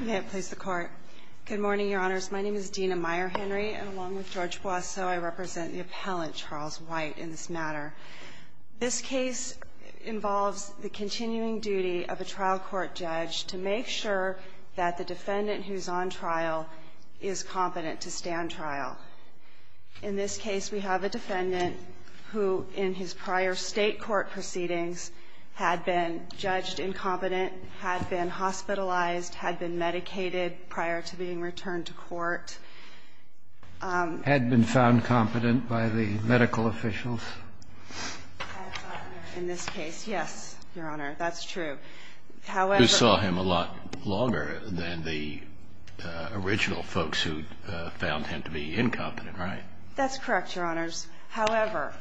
May it please the Court. Good morning, Your Honors. My name is Dina Meyer-Henry, and along with George Boisseau, I represent the appellant, Charles White, in this matter. This case involves the continuing duty of a trial court judge to make sure that the defendant who's on trial is competent to stand trial. In this case, we have a defendant who, in his prior State court proceedings, had been judged incompetent, had been hospitalized, had been medicated prior to being returned to court. Had been found competent by the medical officials. In this case, yes, Your Honor, that's true. Who saw him a lot longer than the original folks who found him to be incompetent, right? That's correct, Your Honors. However,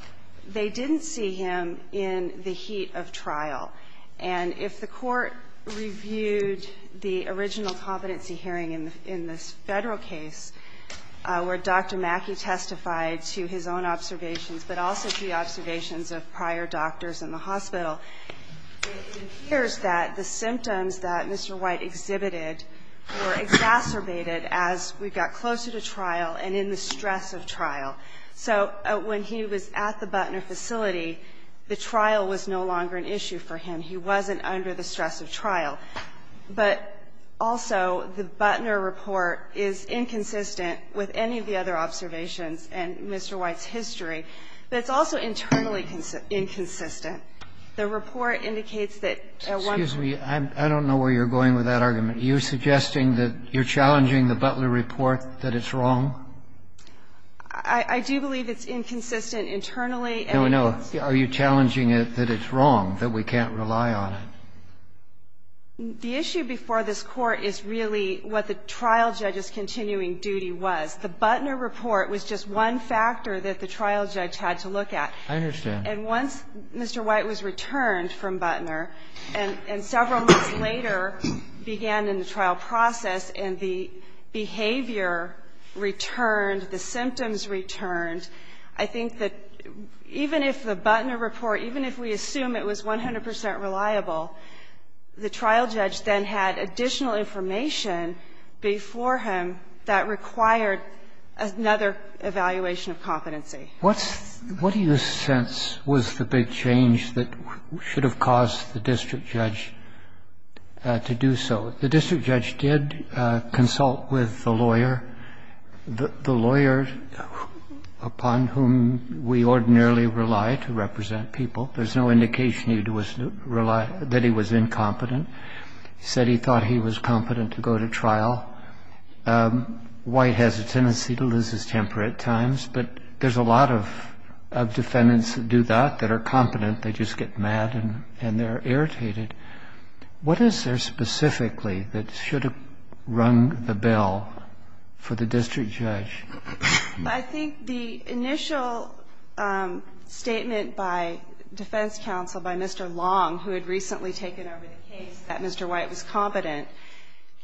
they didn't see him in the heat of trial. And if the Court reviewed the original competency hearing in this Federal case, where Dr. Mackey testified to his own observations, but also to the observations of prior doctors in the hospital, it appears that the symptoms that Mr. White exhibited were exacerbated as we got closer to trial and in the stress of trial. So when he was at the Butner facility, the trial was no longer an issue for him. He wasn't under the stress of trial. But also, the Butner report is inconsistent with any of the other observations and Mr. White's history. But it's also internally inconsistent. The report indicates that at one point. Excuse me. I don't know where you're going with that argument. Are you suggesting that you're challenging the Butner report that it's wrong? I do believe it's inconsistent internally. No, no. Are you challenging it that it's wrong, that we can't rely on it? The issue before this Court is really what the trial judge's continuing duty was. The Butner report was just one factor that the trial judge had to look at. I understand. And once Mr. White was returned from Butner, and several months later began in the trial process, and the behavior returned, the symptoms returned, I think that even if the Butner report, even if we assume it was 100 percent reliable, the trial judge then had additional information before him that required another evaluation of competency. What do you sense was the big change that should have caused the district judge to do so? The district judge did consult with the lawyer, the lawyer upon whom we ordinarily rely to represent people. There's no indication that he was incompetent. I think the initial statement by defense counsel, by Mr. Long, who had recently taken over the case, that Mr. White was competent,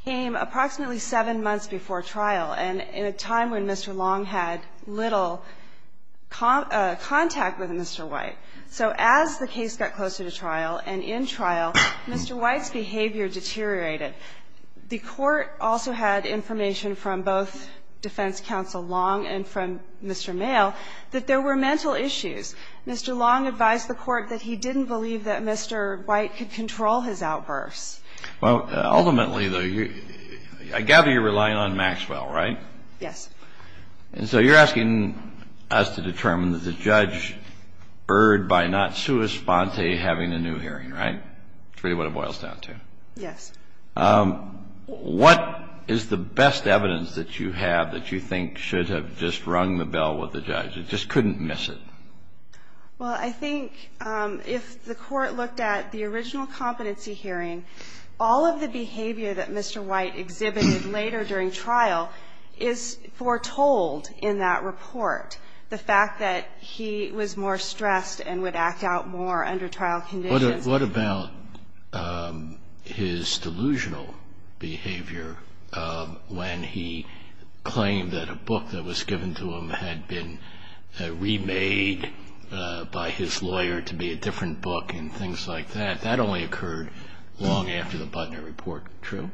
came approximately 7 months before trial, and in a time when Mr. Long had little contact with Mr. White. So as the case got closer to trial and in trial, Mr. White's behavior deteriorated. The Court also had information from both defense counsel Long and from Mr. Mayo that there were mental issues. Mr. Long advised the Court that he didn't believe that Mr. White could control his outbursts. Well, ultimately, though, I gather you're relying on Maxwell, right? Yes. And so you're asking us to determine that the judge erred by not sua sponte having a new hearing, right? That's really what it boils down to. Yes. What is the best evidence that you have that you think should have just rung the bell with the judge, it just couldn't miss it? Well, I think if the Court looked at the original competency hearing, all of the behavior that Mr. White exhibited later during trial is foretold in that report, the fact that he was more stressed and would act out more under trial conditions and so forth. What about his delusional behavior when he claimed that a book that was given to him had been remade by his lawyer to be a different book and things like that? That only occurred long after the Butner Report. True?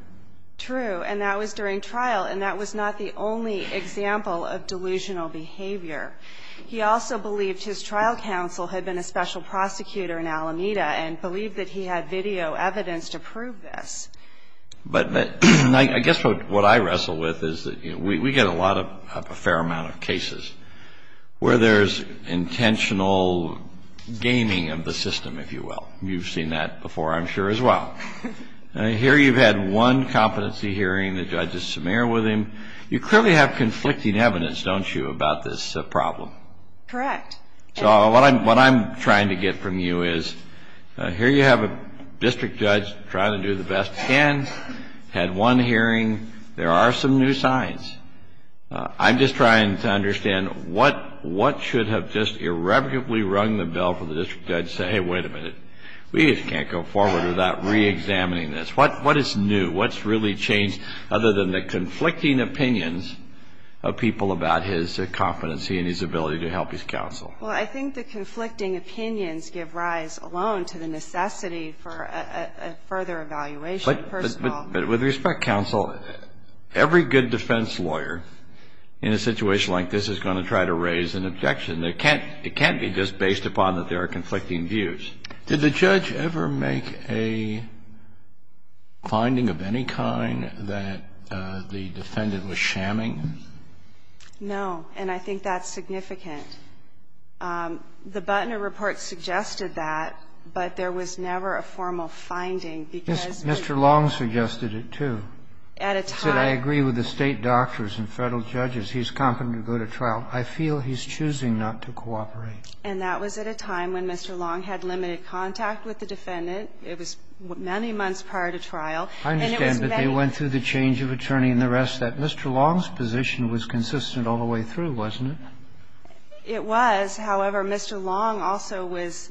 True. And that was during trial. And that was not the only example of delusional behavior. He also believed his trial counsel had been a special prosecutor in Alameda and believed that he had video evidence to prove this. But I guess what I wrestle with is that we get a fair amount of cases where there's intentional gaming of the system, if you will. You've seen that before, I'm sure, as well. Here you've had one competency hearing. The judge is semir with him. You clearly have conflicting evidence, don't you, about this problem? Correct. So what I'm trying to get from you is here you have a district judge trying to do the best he can, had one hearing. There are some new signs. I'm just trying to understand what should have just irrevocably rung the bell for the district judge to say, hey, wait a minute. We just can't go forward without reexamining this. What is new? What's really changed other than the conflicting opinions of people about his competency and his ability to help his counsel? Well, I think the conflicting opinions give rise alone to the necessity for a further evaluation, first of all. But with respect, counsel, every good defense lawyer in a situation like this is going to try to raise an objection. It can't be just based upon that there are conflicting views. Did the judge ever make a finding of any kind that the defendant was shamming? No. And I think that's significant. The Buttner report suggested that, but there was never a formal finding because Mr. Long suggested it, too. At a time. He said, I agree with the State doctors and Federal judges. He's competent to go to trial. I feel he's choosing not to cooperate. And that was at a time when Mr. Long had limited contact with the defendant. It was many months prior to trial. I understand, but they went through the change of attorney and the rest of that. And Mr. Long's position was consistent all the way through, wasn't it? It was. However, Mr. Long also was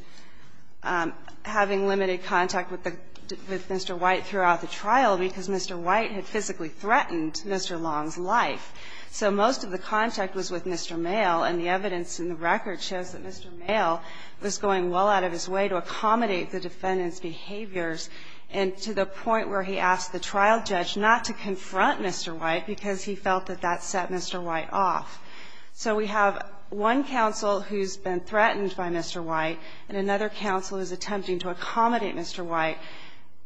having limited contact with the Mr. White throughout the trial because Mr. White had physically threatened Mr. Long's life. So most of the contact was with Mr. Male. And the evidence in the record shows that Mr. Male was going well out of his way to accommodate the defendant's behaviors and to the point where he asked the trial judge not to confront Mr. White because he felt that that set Mr. White off. So we have one counsel who's been threatened by Mr. White and another counsel who's attempting to accommodate Mr. White.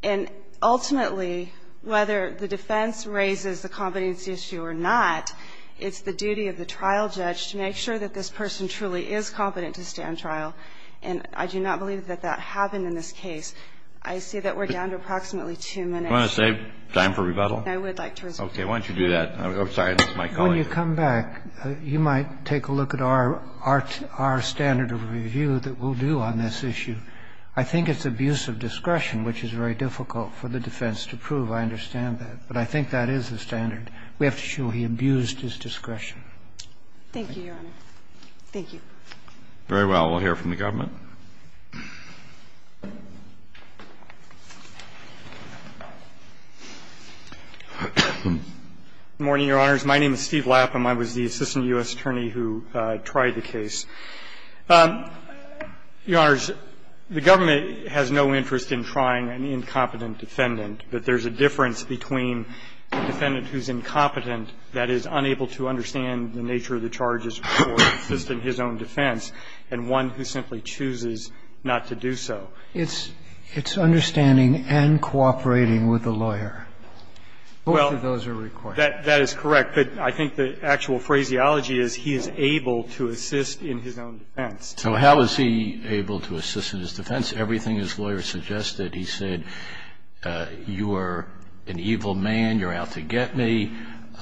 And ultimately, whether the defense raises the competency issue or not, it's the duty of the trial judge to make sure that this person truly is competent to stand trial. And I do not believe that that happened in this case. I see that we're down to approximately two minutes. Do you want to save time for rebuttal? I would like to respond. Okay. Why don't you do that? I'm sorry. This is my colleague. When you come back, you might take a look at our standard of review that we'll do on this issue. I think it's abuse of discretion, which is very difficult for the defense to prove. I understand that. But I think that is the standard. We have to show he abused his discretion. Thank you, Your Honor. Thank you. Very well. We'll hear from the government. Good morning, Your Honors. My name is Steve Lapham. I was the assistant U.S. attorney who tried the case. Your Honors, the government has no interest in trying an incompetent defendant. But there's a difference between a defendant who's incompetent, that is, unable to understand the nature of the charges before assisting his own defense, and one who simply chooses not to do so. It's understanding and cooperating with the lawyer. Both of those are required. Well, that is correct. But I think the actual phraseology is he is able to assist in his own defense. So how is he able to assist in his defense? Everything his lawyer suggested, he said, you are an evil man. You're out to get me. You're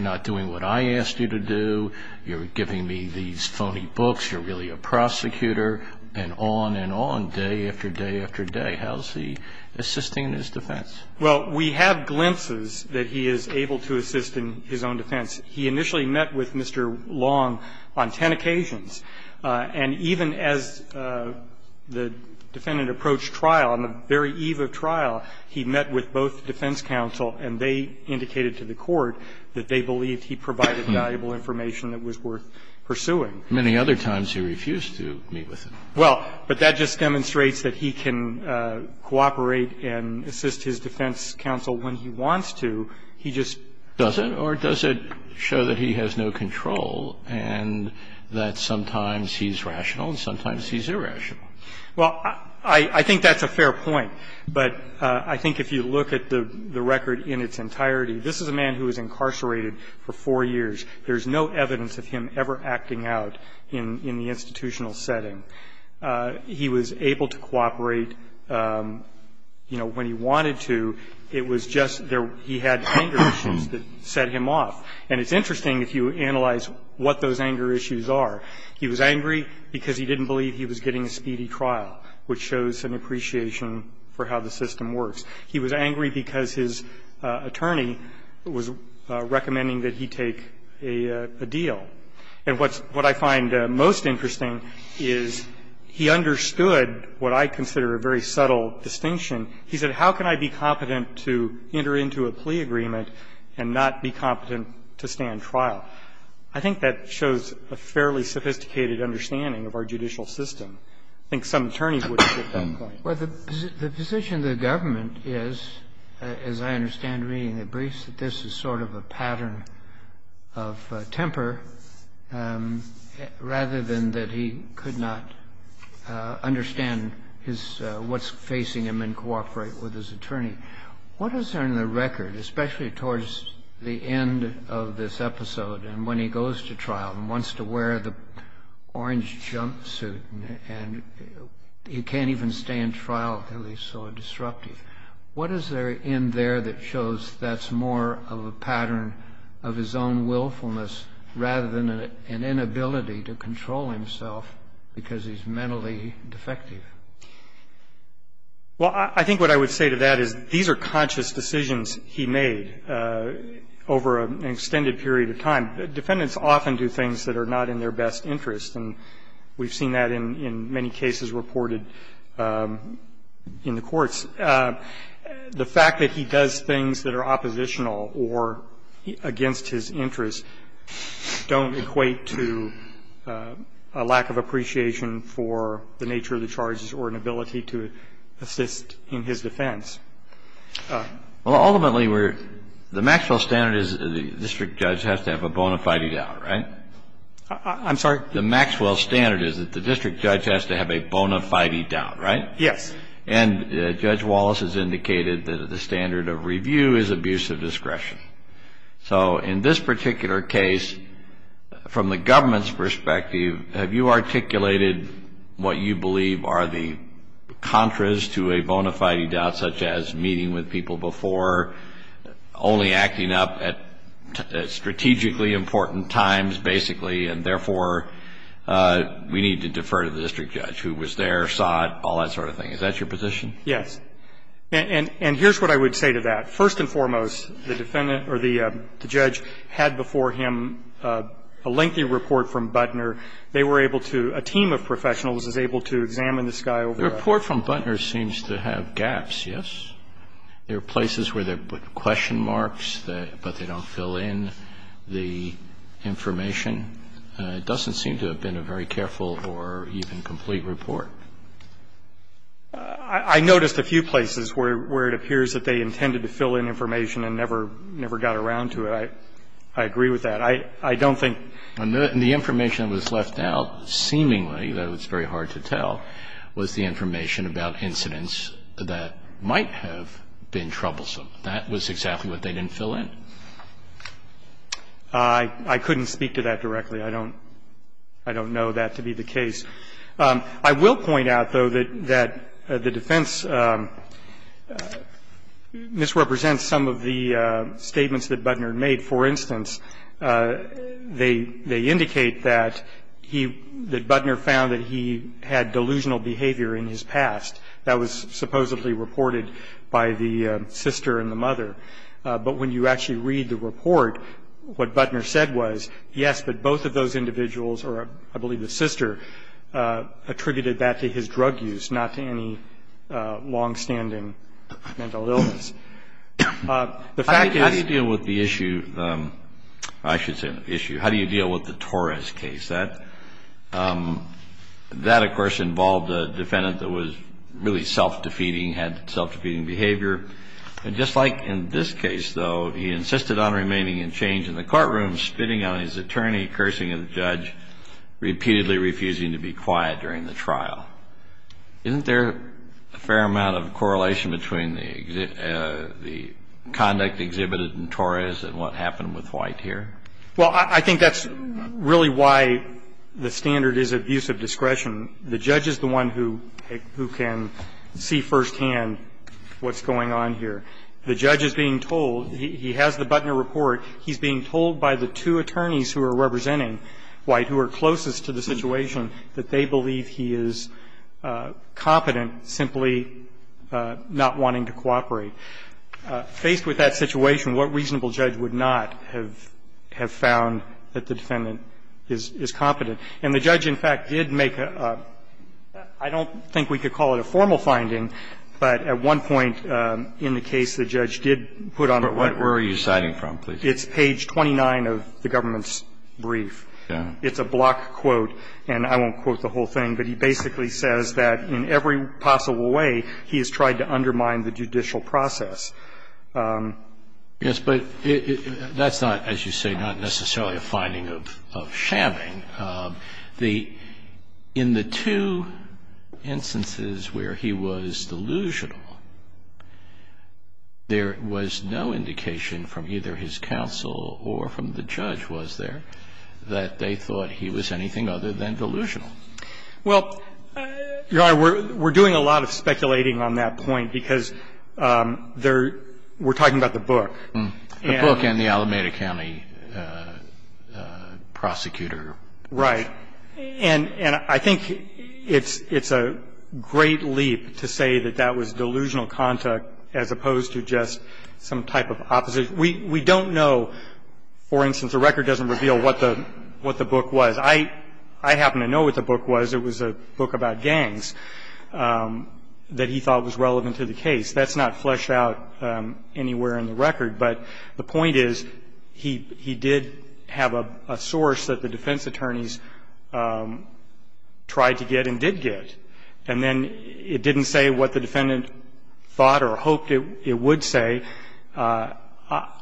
not doing what I asked you to do. You're giving me these phony books. You're really a prosecutor, and on and on, day after day after day. How is he assisting his defense? Well, we have glimpses that he is able to assist in his own defense. He initially met with Mr. Long on ten occasions. And even as the defendant approached trial, on the very eve of trial, he met with both defense counsel, and they indicated to the court that they believed he provided valuable information that was worth pursuing. Many other times he refused to meet with him. Well, but that just demonstrates that he can cooperate and assist his defense counsel when he wants to. He just doesn't. Or does it show that he has no control and that sometimes he's rational and sometimes he's irrational? Well, I think that's a fair point. But I think if you look at the record in its entirety, this is a man who was incarcerated for four years. There's no evidence of him ever acting out in the institutional setting. He was able to cooperate, you know, when he wanted to. It was just there he had anger issues that set him off. And it's interesting if you analyze what those anger issues are. He was angry because he didn't believe he was getting a speedy trial, which shows an appreciation for how the system works. He was angry because his attorney was recommending that he take a deal. And what's what I find most interesting is he understood what I consider a very subtle distinction. He said, how can I be competent to enter into a plea agreement and not be competent to stand trial? I think that shows a fairly sophisticated understanding of our judicial system. I think some attorneys would get that point. Well, the position of the government is, as I understand reading the briefs, that this is sort of a pattern of temper rather than that he could not understand what's facing him and cooperate with his attorney. What is on the record, especially towards the end of this episode and when he goes to and he can't even stand trial until he's so disruptive, what is there in there that shows that's more of a pattern of his own willfulness rather than an inability to control himself because he's mentally defective? Well, I think what I would say to that is these are conscious decisions he made over an extended period of time. Defendants often do things that are not in their best interest. And we've seen that in many cases reported in the courts. The fact that he does things that are oppositional or against his interest don't equate to a lack of appreciation for the nature of the charges or an ability to assist in his defense. Well, ultimately, we're the Maxwell standard is the district judge has to have a bone to fight it out, right? I'm sorry? The Maxwell standard is that the district judge has to have a bona fide doubt, right? Yes. And Judge Wallace has indicated that the standard of review is abuse of discretion. So in this particular case, from the government's perspective, have you articulated what you believe are the contras to a bona fide doubt, such as meeting with people before, only acting up at strategically important times, basically, and therefore we need to defer to the district judge who was there, saw it, all that sort of thing? Is that your position? Yes. And here's what I would say to that. First and foremost, the defendant or the judge had before him a lengthy report from Butner. They were able to, a team of professionals was able to examine this guy over. The report from Butner seems to have gaps, yes. There are places where they put question marks, but they don't fill in the information It doesn't seem to have been a very careful or even complete report. I noticed a few places where it appears that they intended to fill in information and never got around to it. I agree with that. I don't think. The information that was left out, seemingly, though it's very hard to tell, was the information about incidents that might have been troublesome. That was exactly what they didn't fill in. I couldn't speak to that directly. I don't know that to be the case. I will point out, though, that the defense misrepresents some of the statements that Butner made. For instance, they indicate that he, that Butner found that he had delusional behavior in his past. That was supposedly reported by the sister and the mother. But when you actually read the report, what Butner said was, yes, but both of those individuals, or I believe the sister, attributed that to his drug use, not to any long-standing mental illness. The fact that he. How do you deal with the issue, I should say the issue, how do you deal with the Torres case? That, of course, involved a defendant that was really self-defeating, had self-defeating behavior. And just like in this case, though, he insisted on remaining in change in the courtroom, spitting on his attorney, cursing the judge, repeatedly refusing to be quiet during the trial. Isn't there a fair amount of correlation between the conduct exhibited in Torres and what happened with White here? Well, I think that's really why the standard is abuse of discretion. The judge is the one who can see firsthand what's going on here. The judge is being told he has the Butner report. He's being told by the two attorneys who are representing White, who are closest to the situation, that they believe he is competent, simply not wanting to cooperate. Faced with that situation, what reasonable judge would not have found that the defendant is competent? And the judge, in fact, did make a – I don't think we could call it a formal finding, but at one point in the case, the judge did put on the record. But where are you citing from, please? It's page 29 of the government's brief. It's a block quote, and I won't quote the whole thing, but he basically says that in every possible way, he has tried to undermine the judicial process. Yes, but that's not, as you say, not necessarily a finding of shamming. Right. The – in the two instances where he was delusional, there was no indication from either his counsel or from the judge, was there, that they thought he was anything other than delusional? Well, Your Honor, we're doing a lot of speculating on that point, because they're – we're talking about the book. The book and the Alameda County prosecutor. Right. And I think it's a great leap to say that that was delusional conduct as opposed to just some type of opposition. We don't know – for instance, the record doesn't reveal what the book was. I happen to know what the book was. It was a book about gangs that he thought was relevant to the case. That's not fleshed out anywhere in the record. But the point is, he did have a source that the defense attorneys tried to get and did get, and then it didn't say what the defendant thought or hoped it would say.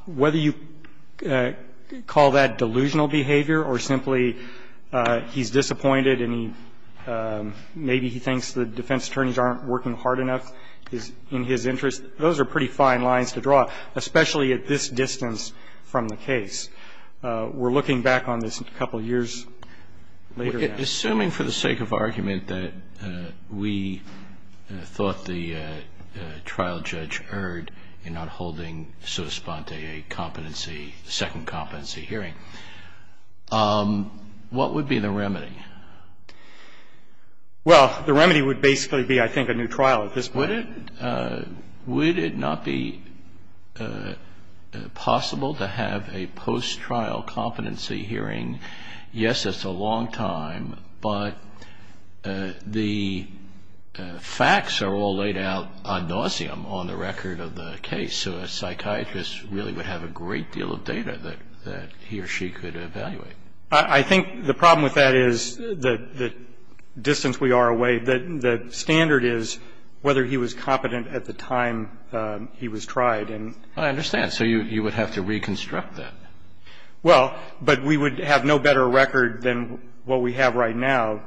Whether you call that delusional behavior or simply he's disappointed and he – maybe he thinks the defense attorneys aren't working hard enough in his interest. Those are pretty fine lines to draw, especially at this distance from the case. We're looking back on this a couple of years later now. Assuming for the sake of argument that we thought the trial judge erred in not holding so-to-span-de-a competency – second competency hearing, what would be the remedy? Well, the remedy would basically be, I think, a new trial at this point. Would it not be possible to have a post-trial competency hearing? Yes, it's a long time, but the facts are all laid out ad nauseum on the record of the case. So a psychiatrist really would have a great deal of data that he or she could evaluate. I think the problem with that is the distance we are away. The standard is whether he was competent at the time he was tried. I understand. So you would have to reconstruct that. Well, but we would have no better record than what we have right now.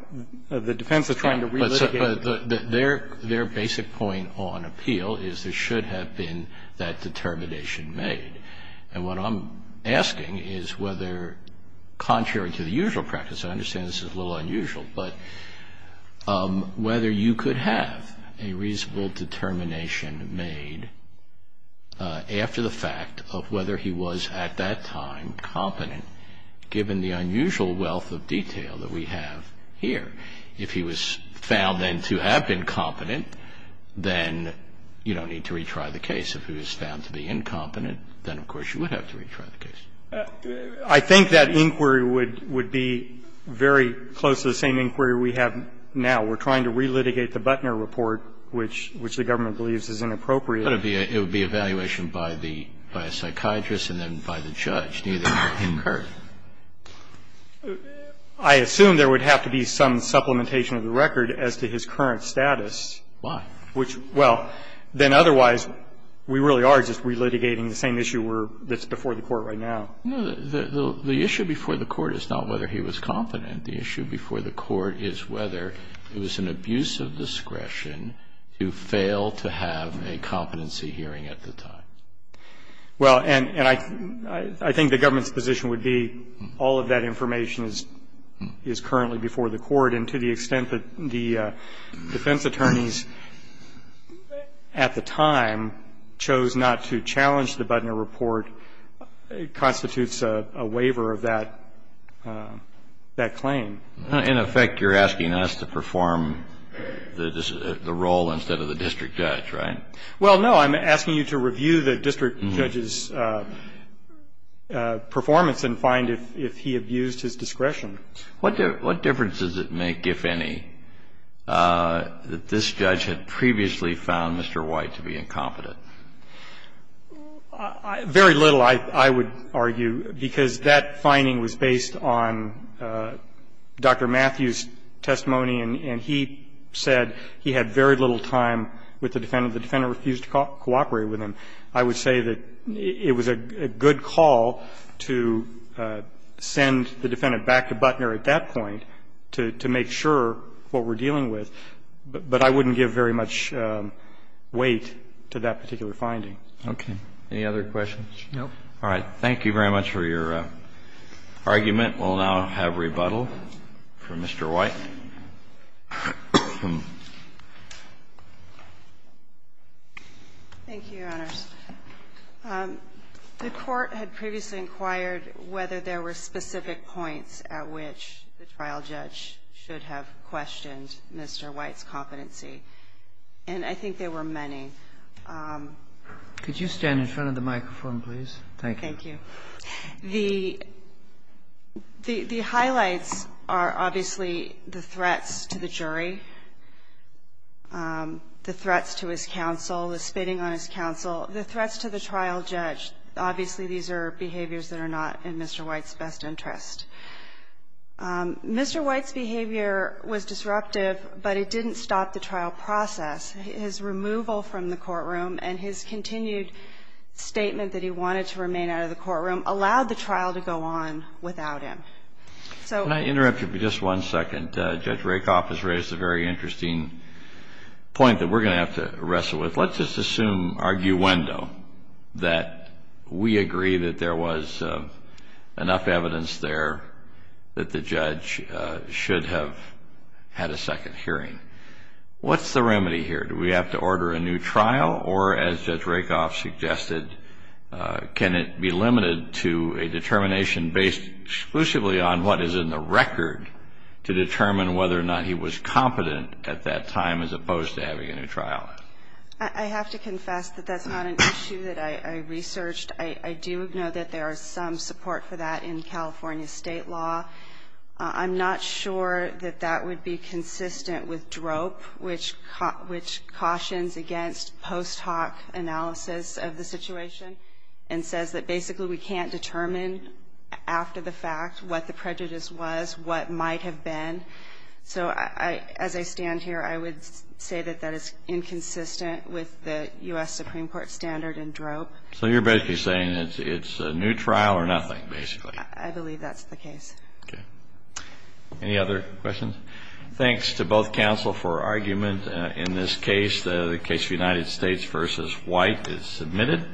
The defense is trying to relitigate. Their basic point on appeal is there should have been that determination And what I'm asking is whether, contrary to the usual practice, I understand this is a little unusual, but whether you could have a reasonable determination made after the fact of whether he was at that time competent, given the unusual wealth of detail that we have here. If he was found then to have been competent, then you don't need to retry the case. If he was found to be incompetent, then of course you would have to retry the case. I think that inquiry would be very close to the same inquiry we have now. We're trying to relitigate the Butner report, which the government believes is inappropriate. But it would be evaluation by a psychiatrist and then by the judge. Neither would incur. I assume there would have to be some supplementation of the record as to his current status. Why? Well, then otherwise, we really are just relitigating the same issue that's before the Court right now. No. The issue before the Court is not whether he was competent. The issue before the Court is whether it was an abuse of discretion to fail to have a competency hearing at the time. Well, and I think the government's position would be all of that information is currently before the Court, and to the extent that the defense attorneys at the time chose not to challenge the Butner report constitutes a waiver of that claim. In effect, you're asking us to perform the role instead of the district judge, right? Well, no. I'm asking you to review the district judge's performance and find if he abused his discretion. What difference does it make, if any, that this judge had previously found Mr. White to be incompetent? Very little, I would argue, because that finding was based on Dr. Matthews' testimony, and he said he had very little time with the defendant. The defendant refused to cooperate with him. I would say that it was a good call to send the defendant back to Butner at that point to make sure what we're dealing with, but I wouldn't give very much weight to that particular finding. Okay. Any other questions? No. All right. Thank you very much for your argument. Thank you, Your Honor. The Court had previously inquired whether there were specific points at which the trial judge should have questioned Mr. White's competency, and I think there were many. Could you stand in front of the microphone, please? Thank you. Thank you. The highlights are obviously the threats to the jury, the threats to his counsel, the spitting on his counsel, the threats to the trial judge. Obviously, these are behaviors that are not in Mr. White's best interest. Mr. White's behavior was disruptive, but it didn't stop the trial process. His removal from the courtroom and his continued statement that he wanted to remain out of the courtroom allowed the trial to go on without him. So the point that we're going to have to wrestle with, let's assume that the trial judge had a second hearing. Let's just assume, arguendo, that we agree that there was enough evidence there that the judge should have had a second hearing. What's the remedy here? Do we have to order a new trial, or as Judge Rakoff suggested, can it be limited to a determination based exclusively on what is in the record to determine whether or not he was competent at that time as opposed to having a new trial? I have to confess that that's not an issue that I researched. I do know that there is some support for that in California state law. I'm not sure that that would be consistent with drope, which cautions against post hoc analysis of the situation and says that basically we can't determine after the fact what the prejudice was, what might have been. So as I stand here, I would say that that is inconsistent with the U.S. Supreme Court standard in drope. So you're basically saying it's a new trial or nothing, basically. I believe that's the case. Okay. Any other questions? Thanks to both counsel for argument in this case. The case of United States v. White is submitted.